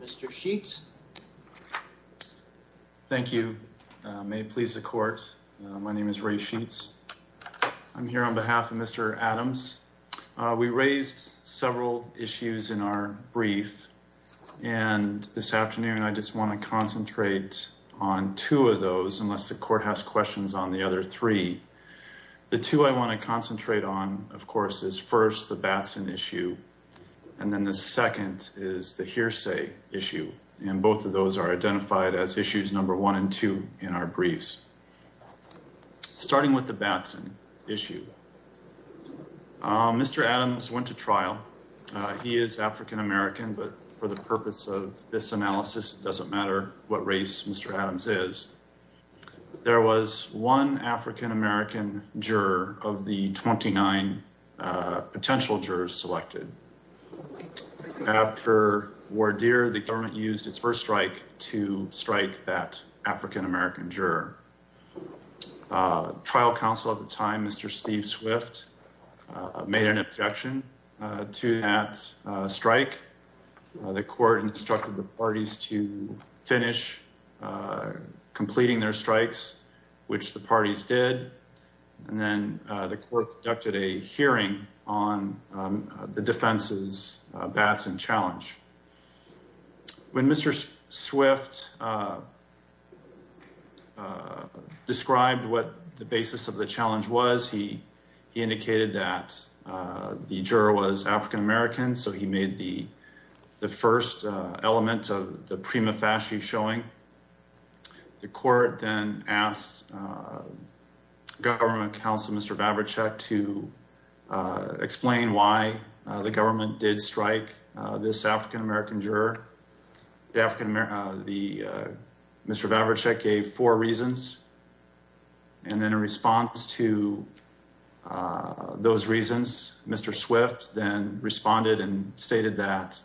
Mr. Sheets. Thank you. May it please the court. My name is Ray Sheets. I'm here on behalf of Mr. Adams. We raised several issues in our brief, and this afternoon I just want to concentrate on two of those, unless the court has questions on the other three. The two I want to concentrate on, of course, is first the Batson issue, and then the second is the hearsay issue, and both of those are identified as issues number one and two in our briefs. Starting with the Batson issue, Mr. Adams went to trial. He is African American, but for the purpose of this analysis, it doesn't matter what race Mr. Adams is. There was one African American juror of the 29 potential jurors selected. After Wardere, the government used its first strike to strike that African American juror. Trial counsel at the time, Mr. Steve Swift, made an objection to that strike. The court instructed the parties to finish completing their strikes, which the parties did, and then the court conducted a hearing on the defense's Batson challenge. When Mr. Swift described what the basis of the challenge was, he indicated that the juror was African American, so he made the first element of the prima facie showing. The court then asked government counsel, Mr. Vavricek, to explain why the government did strike this African American juror. Mr. Vavricek gave four reasons, and in response to those reasons, Mr. Swift then responded and stated that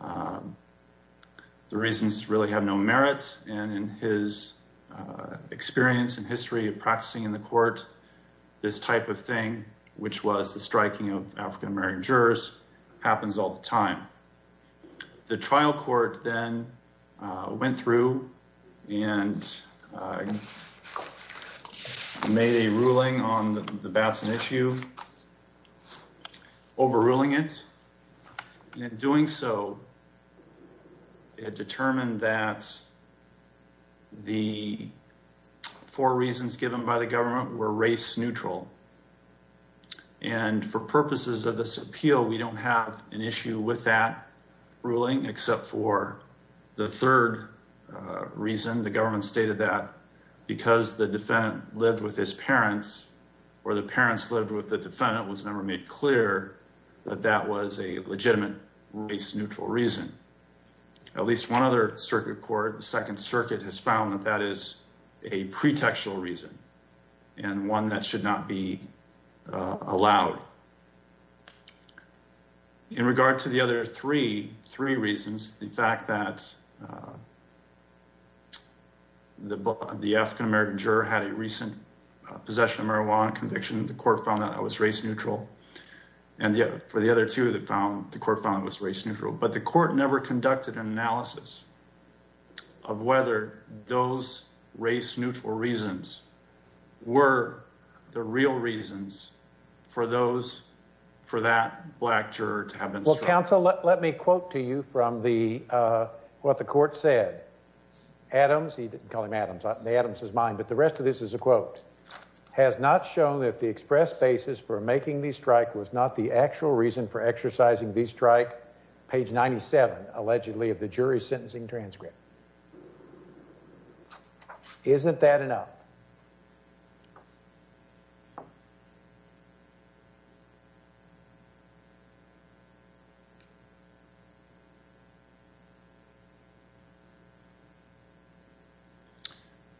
the reasons really have no merit, and in his experience and history of practicing in the court, this type of thing, which was the striking of African American jurors, happens all the time. The trial court then went through and made a ruling on the Batson issue, overruling it, and in doing so, it determined that the four reasons given by the government were race-neutral, and for purposes of this appeal, we don't have an issue with that ruling except for the third reason. The government stated that because the defendant lived with his parents or the parents lived with the defendant, it was never made clear that that was a legitimate race-neutral reason. At least one other circuit court, the Second Circuit, has found that that is a pretextual reason, and one that should not be allowed. In regard to the other three reasons, the fact that the African American juror had a recent possession of marijuana conviction, the court found that that was race-neutral, and for the other two, the court found it was race-neutral, but the court never conducted an analysis of whether those race-neutral reasons were the real reasons for that black juror to have been struck. Well, counsel, let me quote to you from what the court said. Adams, he didn't call him Adams, the Adams is mine, but the rest of this is a quote, has not shown that the express basis for making the strike was not the actual reason for exercising the strike, page 97, allegedly of the jury's sentencing transcript. Isn't that enough?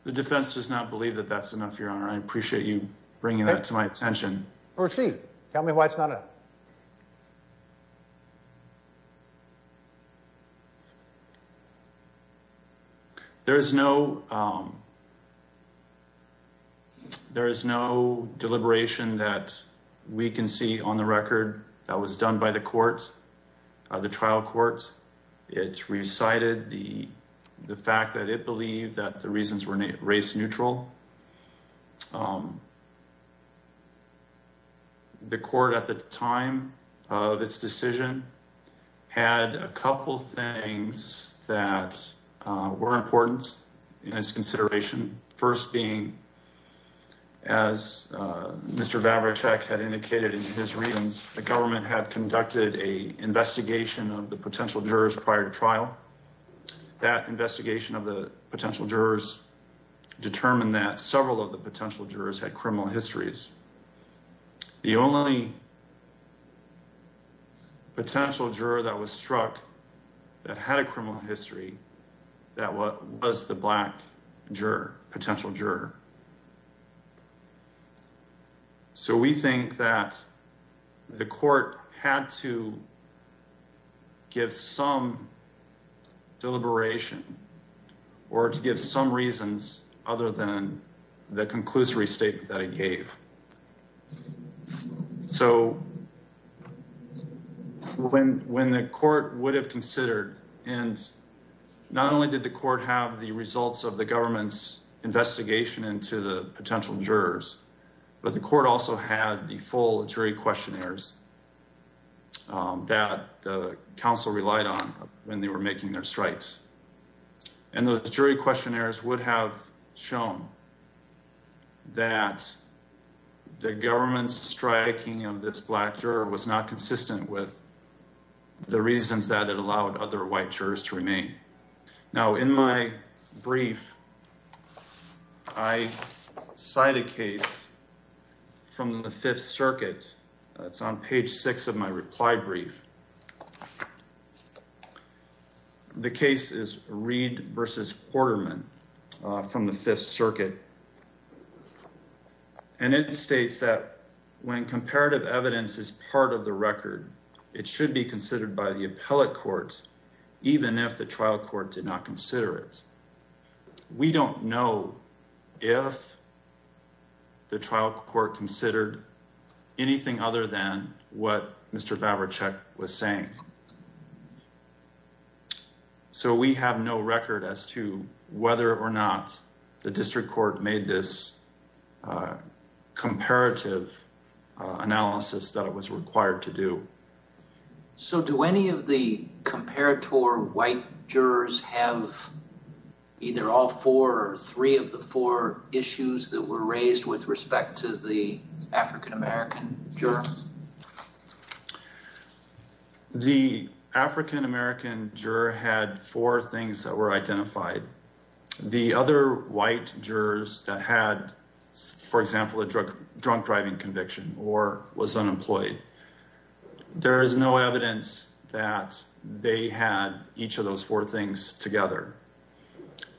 The defense does not believe that that's enough, Your Honor. I appreciate you bringing that to my attention. Proceed. Tell me why it's not enough. There is no, there is no deliberation that we can see on the record that was done by the court, the trial court. It recited the fact that it believed that the reasons were race-neutral. The court at the time of its decision had a couple things that were important in its consideration. First being, as Mr. Vavracek had indicated in his readings, the government had conducted a investigation of the potential jurors prior to trial. That determined that several of the potential jurors had criminal histories. The only potential juror that was struck that had a criminal history, that was the black potential juror. So we think that the court had to give some deliberation or to give some reasons other than the conclusory statement that it gave. So when the court would have considered, and not only did the the potential jurors, but the court also had the full jury questionnaires that the counsel relied on when they were making their strikes. And those jury questionnaires would have shown that the government's striking of this black juror was not consistent with the reasons that it allowed other white jurors to remain. Now, in my brief, I cite a case from the Fifth Circuit. It's on page six of my reply brief. The case is Reed v. Quarterman from the Fifth Circuit. And it states that when even if the trial court did not consider it, we don't know if the trial court considered anything other than what Mr. Vavracek was saying. So we have no record as to whether or not the district court made this comparative analysis that it was required to do. So do any of the comparator white jurors have either all four or three of the four issues that were raised with respect to the African-American juror? The African-American juror had four things that were identified. The other white jurors that had, for example, a drunk driving conviction or was unemployed, there is no evidence that they had each of those four things together.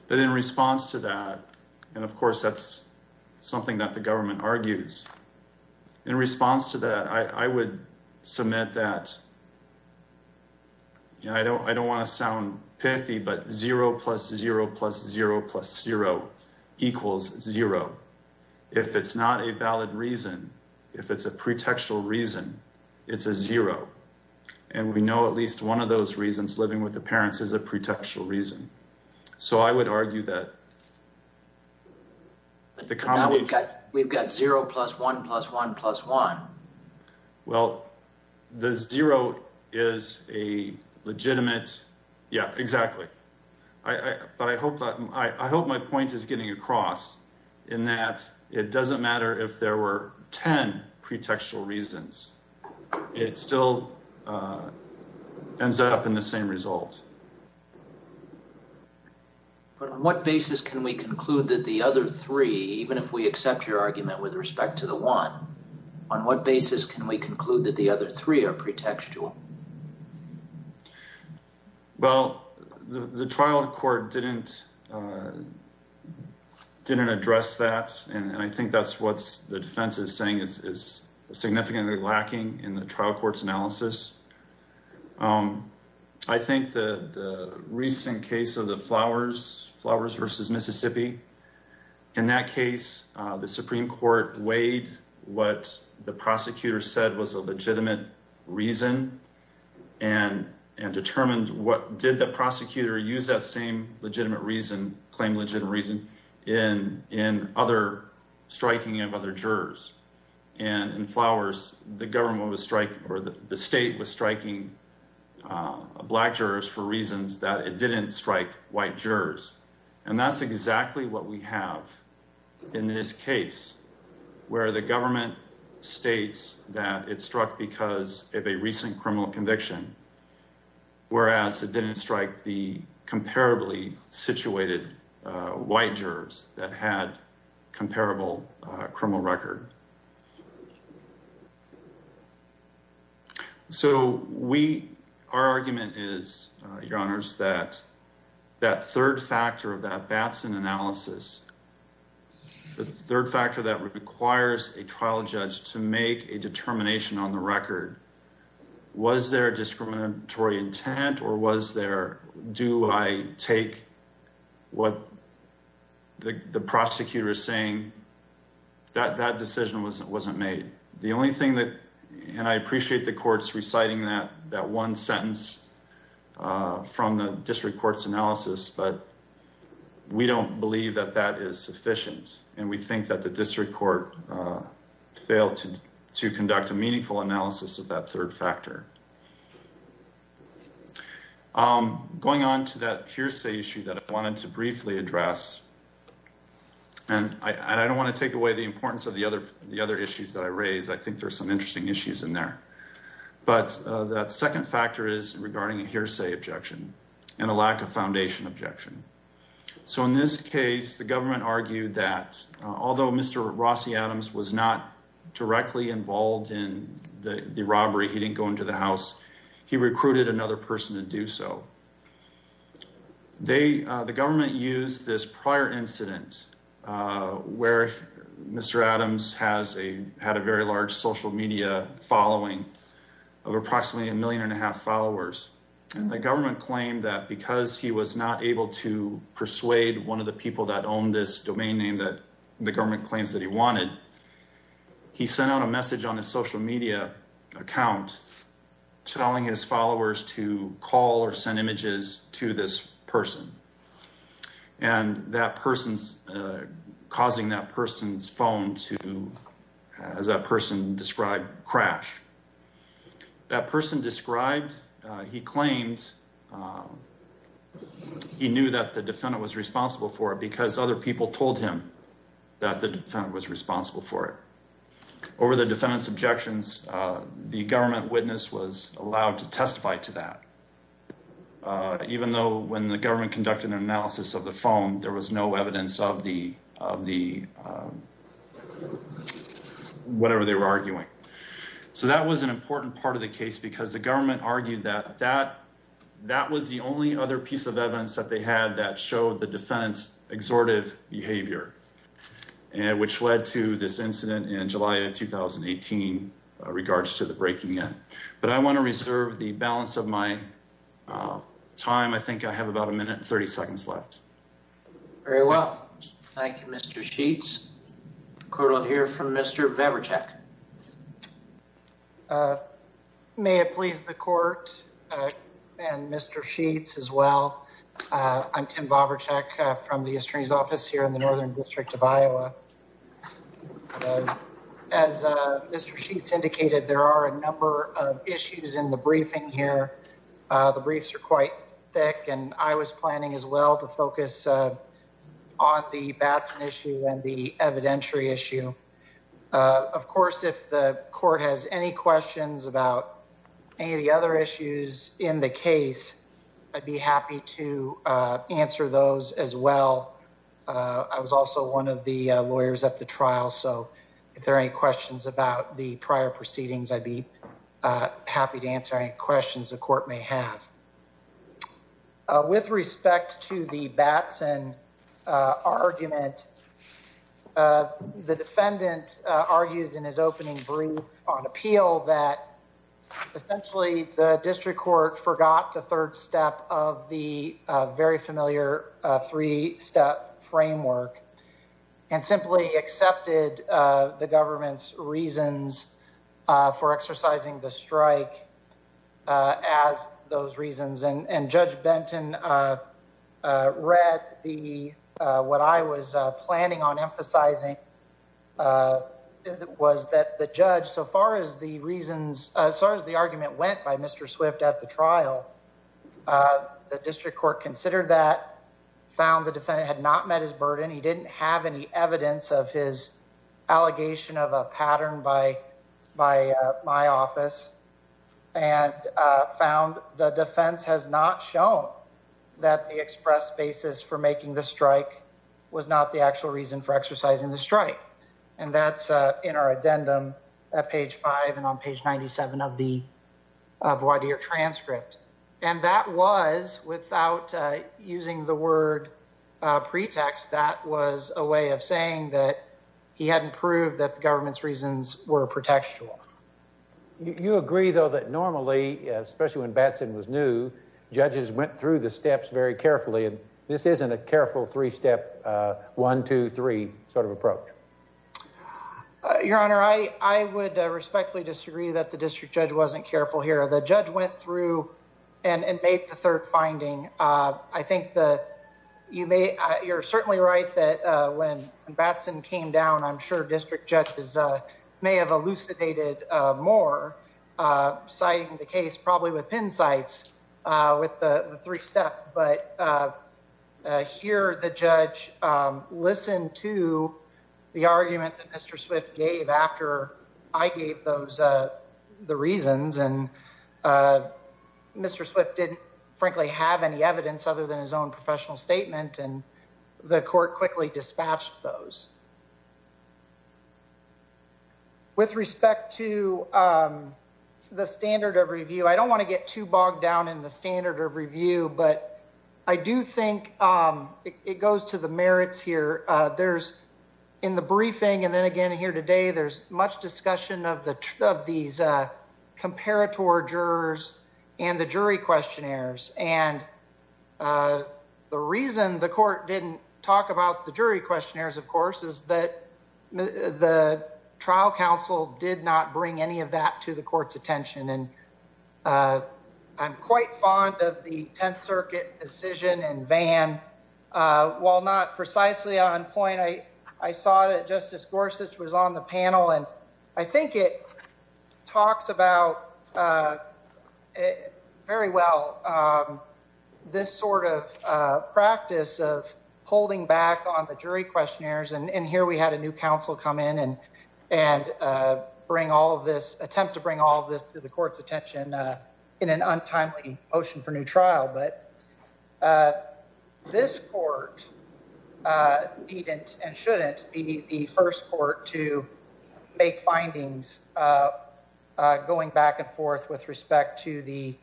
But in response to that, and of course, that's something that the I would submit that I don't want to sound pithy, but zero plus zero plus zero plus zero equals zero. If it's not a valid reason, if it's a pretextual reason, it's a zero. And we know at least one of those reasons, living with the parents, is a pretextual reason. So I would argue that. But now we've got zero plus one plus one plus one. Well, the zero is a legitimate, yeah, exactly. But I hope my point is getting across in that it doesn't matter if there were 10 pretextual reasons, it still ends up in the same result. But on what basis can we conclude that the other three, even if we accept your argument with respect to the one, on what basis can we conclude that the other three are pretextual? Well, the trial court didn't address that. And I think that's what the defense is saying is significantly lacking in the trial court's analysis. I think the recent case of the Flowers versus Mississippi, in that case, the Supreme Court weighed what the prosecutor said was a legitimate reason and determined what did the prosecutor use that same legitimate reason, claim legitimate reason, in other striking of other jurors. And in Flowers, the state was striking black jurors for reasons that it didn't strike white jurors. And that's exactly what we struck because of a recent criminal conviction, whereas it didn't strike the comparably situated white jurors that had comparable criminal record. So we, our argument is, your honors, that that third factor of that Batson analysis, the third factor that requires a trial judge to make a determination on the record, was there a discriminatory intent or was there, do I take what the prosecutor is saying? That decision wasn't made. The only thing that, and I appreciate the courts reciting that one sentence from the district court's analysis, but we don't believe that that is sufficient. And we think that the district court failed to conduct a meaningful analysis of that third factor. Going on to that hearsay issue that I wanted to briefly address, and I don't want to take away the importance of the other issues that I raised. I think there's some interesting issues in there. But that second factor is regarding a hearsay objection and a lack of foundation objection. So in this case, the government argued that although Mr. Rossi Adams was not directly involved in the robbery, he didn't go into the house, he recruited another person to do so. The government used this prior incident where Mr. Adams had a very large social media following of approximately a million and a half followers. And the government claimed that because he was not able to persuade one of the people that owned this domain name that the government claims that he wanted, he sent out a message on his social media account telling his followers to call or send images to this person. And that person's causing that person's phone to, as that person described, crash. That person described, he claimed he knew that the defendant was responsible for it because other people told him that the defendant was responsible for it. Over the defendant's objections, the government witness was allowed to testify to that. Even though when the government conducted an analysis of the phone, there was no evidence of whatever they were arguing. So that was an important part of the case because the government argued that that was the only other piece of evidence that they had that showed the defendant's exhortive behavior, which led to this incident in July of 2018 regards to the breaking in. But I want to reserve the balance of my time. I think I have about a minute and 30 seconds left. Very well. Thank you, Mr. Sheets. Court will hear from Mr. Baburczak. May it please the court and Mr. Sheets as well. I'm Tim Baburczak from the Attorney's Office here in the Northern District of Iowa. As Mr. Sheets indicated, there are a number of issues in the briefing here. The briefs are quite thick and I was planning as well to focus on the Batson issue and the evidentiary issue. Of course, if the court has any questions about any of the other issues in the case, I'd be happy to answer those as well. I was also one of the happy to answer any questions the court may have. With respect to the Batson argument, the defendant argued in his opening brief on appeal that essentially the district court forgot the third step of the very familiar three-step framework and simply accepted the government's reasons for exercising the strike as those reasons. Judge Benton read what I was planning on emphasizing was that the judge, as far as the argument went by Mr. Swift at the trial, the district court considered that, found the defendant had not met his burden, he didn't have any evidence of his allegation of a pattern by my office, and found the defense has not shown that the express basis for making the strike was not the actual reason for exercising the strike. That's in our addendum at page 5 and on page 97 of the voir dire transcript. And that was, without using the word pretext, that was a way of saying that he hadn't proved that the government's reasons were pretextual. You agree though that normally, especially when Batson was new, judges went through the steps very carefully and this isn't a careful three-step one-two-three sort of approach. Your honor, I would respectfully disagree that the district judge wasn't careful here. The judge went through and made the third finding. I think that you may, you're certainly right that when Batson came down, I'm sure district judges may have elucidated more, citing the case probably with pin sites with the three steps, but I hear the judge listen to the argument that Mr. Swift gave after I gave those the reasons and Mr. Swift didn't frankly have any evidence other than his own professional statement and the court quickly dispatched those. With respect to the standard of review, I don't want to get too bogged down in the standard of review. I do think it goes to the merits here. In the briefing and then again here today, there's much discussion of these comparator jurors and the jury questionnaires and the reason the court didn't talk about the jury questionnaires, of course, is that the trial counsel did not bring any of that to the court's attention and I'm quite fond of the Tenth Circuit decision in Vann. While not precisely on point, I saw that Justice Gorsuch was on the panel and I think it talks about very well this sort of practice of holding back on the jury questionnaires and here we had a new counsel come in and bring all of this, attempt to bring all this to the court's attention in an untimely motion for new trial, but this court needn't and shouldn't be the first court to make findings going back and forth with respect to the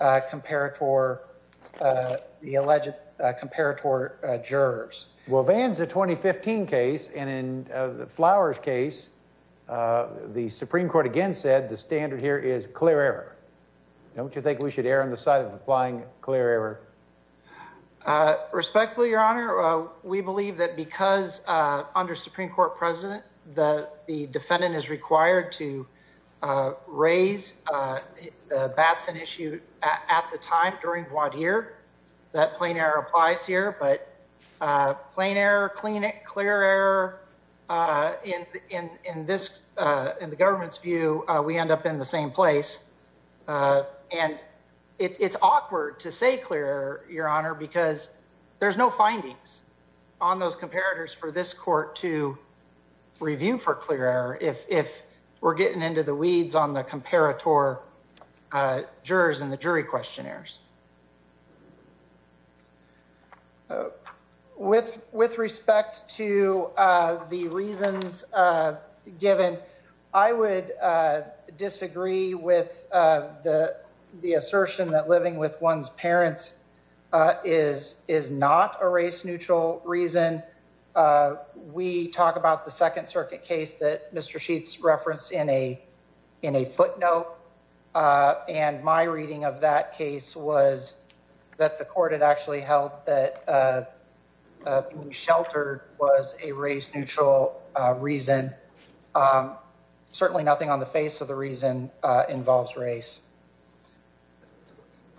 comparator, the alleged comparator jurors. Well, Vann's a 2015 case and in Flower's case, the Supreme Court again said the standard here is clear error. Don't you think we should err on the side of applying clear error? Respectfully, Your Honor, we believe that because under Supreme Court precedent, the defendant is required to raise the Batson issue at the time during voir dire, that plain error applies here, but clean it, clear error, in the government's view, we end up in the same place and it's awkward to say clear error, Your Honor, because there's no findings on those comparators for this court to review for clear error if we're getting into the weeds on the comparator jurors and the jury questionnaires. With respect to the reasons given, I would disagree with the assertion that living with one's parents is not a race-neutral reason. We talk about the Second Circuit case that was that the court had actually held that being sheltered was a race-neutral reason. Certainly nothing on the face of the reason involves race.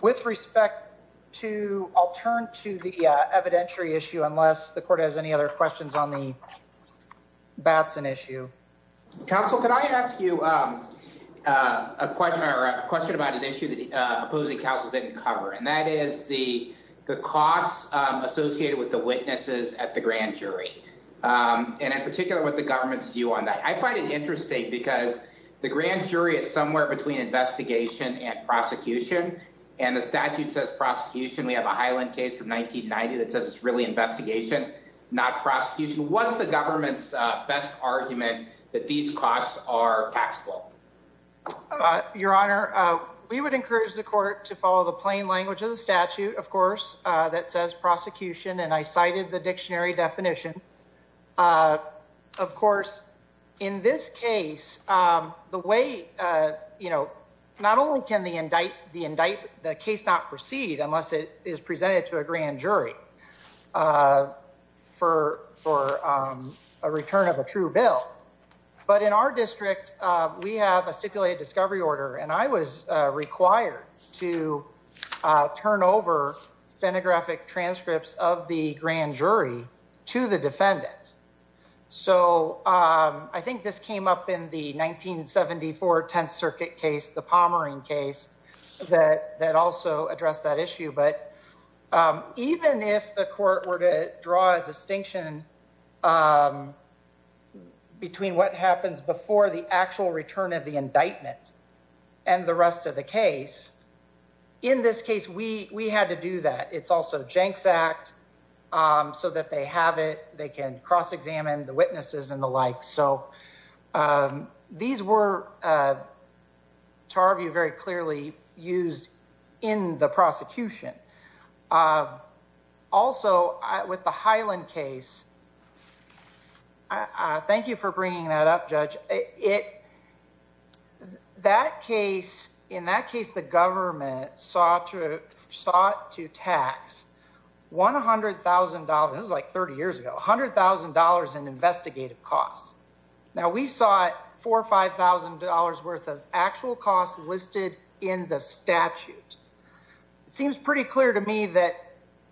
With respect to, I'll turn to the evidentiary issue unless the court has any other questions on the Batson issue. Counsel, could I ask you a question about an issue that the opposing counsel didn't cover, and that is the costs associated with the witnesses at the grand jury, and in particular, what the government's view on that. I find it interesting because the grand jury is somewhere between investigation and prosecution, and the statute says prosecution. We have a Highland case from 1990 that says it's really investigation, not prosecution. What's the government's best argument that these costs are taxable? Your Honor, we would encourage the court to follow the plain language of the statute, of course, that says prosecution, and I cited the dictionary definition. Of course, in this case, not only can the case not proceed unless it is presented to a bill, but in our district, we have a stipulated discovery order, and I was required to turn over stenographic transcripts of the grand jury to the defendant. I think this came up in the 1974 Tenth Circuit case, the Pomeroy case, that also addressed that issue, but even if the court were to draw a distinction between what happens before the actual return of the indictment and the rest of the case, in this case, we had to do that. It's also Jenks Act, so that they have it, they can cross-examine the witnesses and the like, so these were, to our view, very clearly used in the prosecution. Also, with the Highland case, thank you for bringing that up, Judge. In that case, the government sought to tax $100,000, this was like 30 years ago, $100,000 in investigative costs. Now, we saw $4,000 or $5,000 worth of actual costs listed in the statute. It seems pretty clear to me that,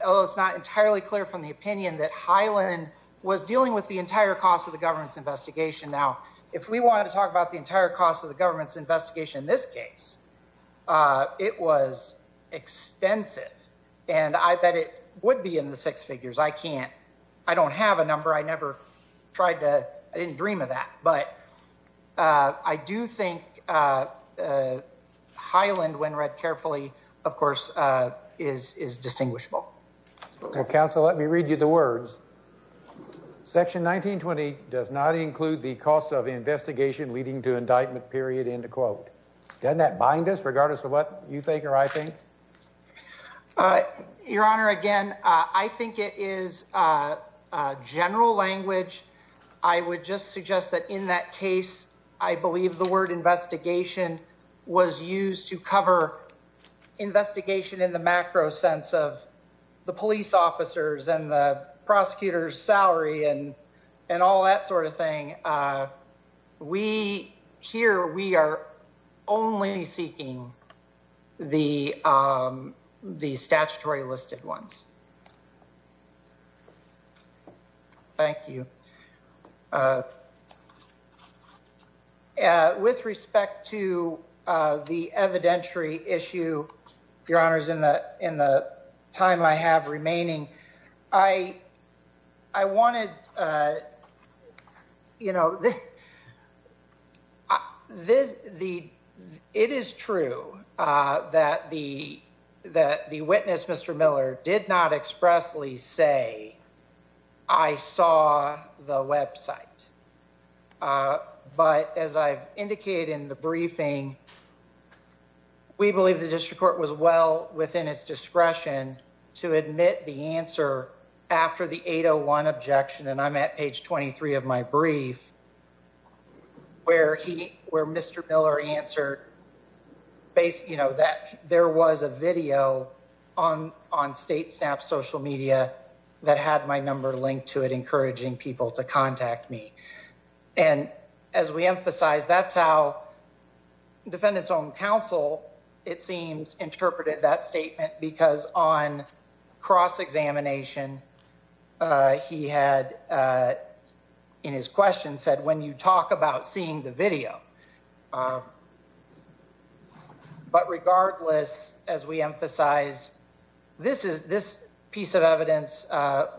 although it's not entirely clear from the opinion, that Highland was dealing with the entire cost of the government's investigation. Now, if we wanted to talk about the entire cost of the government's investigation in this case, it was extensive and I bet it would be in the six figures. I can't, I don't have a number, I never tried to, I didn't dream of that, but I do think Highland, when read carefully, of course, is distinguishable. Well, counsel, let me read you the words. Section 1920 does not include the cost of investigation leading to indictment period. Doesn't that bind us regardless of what you think or I think? Your Honor, again, I think it is general language. I would just suggest that in that case, I believe the word investigation was used to cover investigation in the macro sense of the police officers and the prosecutor's office. Here, we are only seeking the statutory listed ones. Thank you. With respect to the evidentiary issue, Your Honors, in the time I have remaining, I wanted you to know that it is true that the witness, Mr. Miller, did not expressly say, I saw the website. But as I've indicated in the briefing, we believe the district court was well we believe that he did not expressly say, I saw the website. But as I've indicated, we believe where he, where Mr. Miller answered, you know, that there was a video on state snap social media that had my number linked to it, encouraging people to contact me. And as we emphasize, that's how defendant's own counsel, it seems, interpreted that statement because on cross-examination, he had, in his question, said, when you talk about seeing the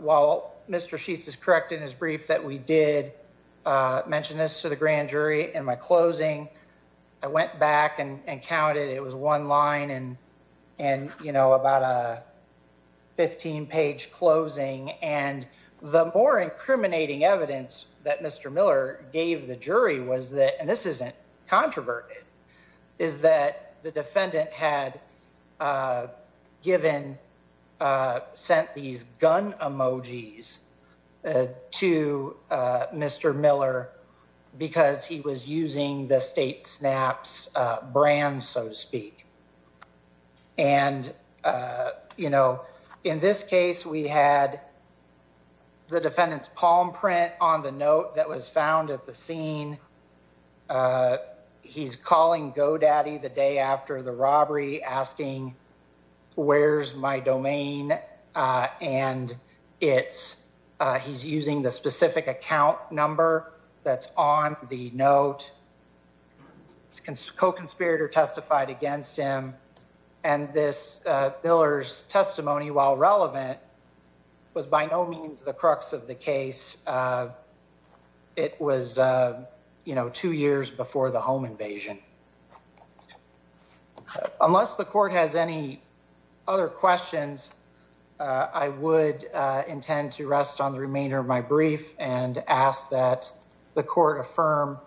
while Mr. Sheets is correct in his brief that we did mention this to the grand jury in my closing, I went back and counted. It was one line and, you know, about a 15-page closing. And the more incriminating evidence that Mr. Miller gave the jury was that, and this isn't gun emojis, to Mr. Miller because he was using the state snaps brand, so to speak. And, you know, in this case, we had the defendant's palm print on the note that was found at the it's, he's using the specific account number that's on the note. His co-conspirator testified against him. And this Miller's testimony, while relevant, was by no means the crux of the case. It was, you know, two years before the home invasion. So, I think, unless the court has any other questions, I would intend to rest on the remainder of my brief and ask that the court affirm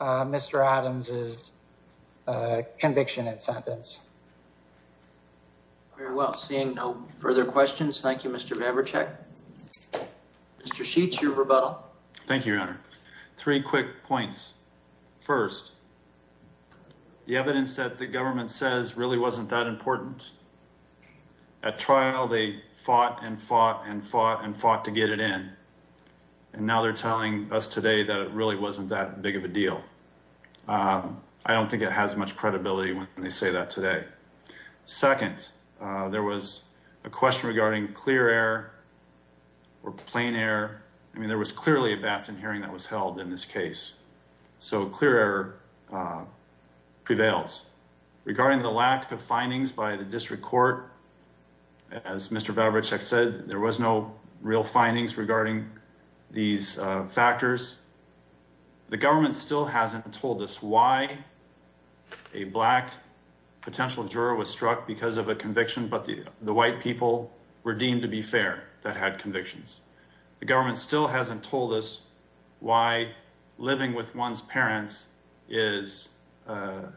Mr. Adams' conviction and sentence. Very well. Seeing no further questions, thank you, Mr. Baburchak. Thank you, Your Honor. Three quick points. First, the evidence that the government says really wasn't that important. At trial, they fought and fought and fought and fought to get it in. And now they're telling us today that it really wasn't that big of a deal. I don't think it has much credibility when they say that today. Second, there was a question regarding clear error or plain error. I mean, there was clearly a Batson hearing that was held in this case. So clear error prevails. Regarding the lack of findings by the district court, as Mr. Baburchak said, there was no real findings regarding these factors. The government still hasn't told us why a Black potential juror was struck because of a conviction, but the white people were deemed to be fair that had convictions. The government still hasn't told us why living with one's parents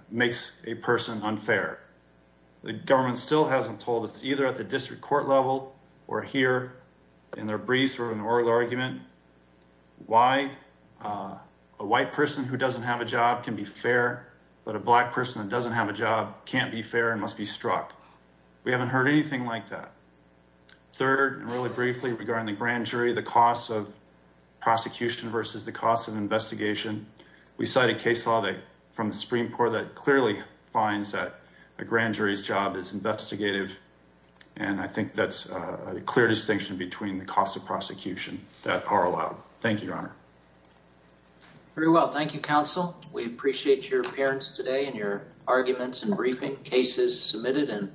makes a person unfair. The government still hasn't told us, either at the district court level or here in their briefs or in an oral argument, why a white person who doesn't have a job can be fair, but a Black person that doesn't have a job can't be fair and must be struck. We haven't heard anything like that. Third, and really briefly regarding the grand jury, the cost of prosecution versus the cost of investigation. We cited case law from the Supreme Court that clearly finds that a grand and I think that's a clear distinction between the costs of prosecution that are allowed. Thank you, Your Honor. Very well. Thank you, counsel. We appreciate your appearance today and your arguments and briefing cases submitted.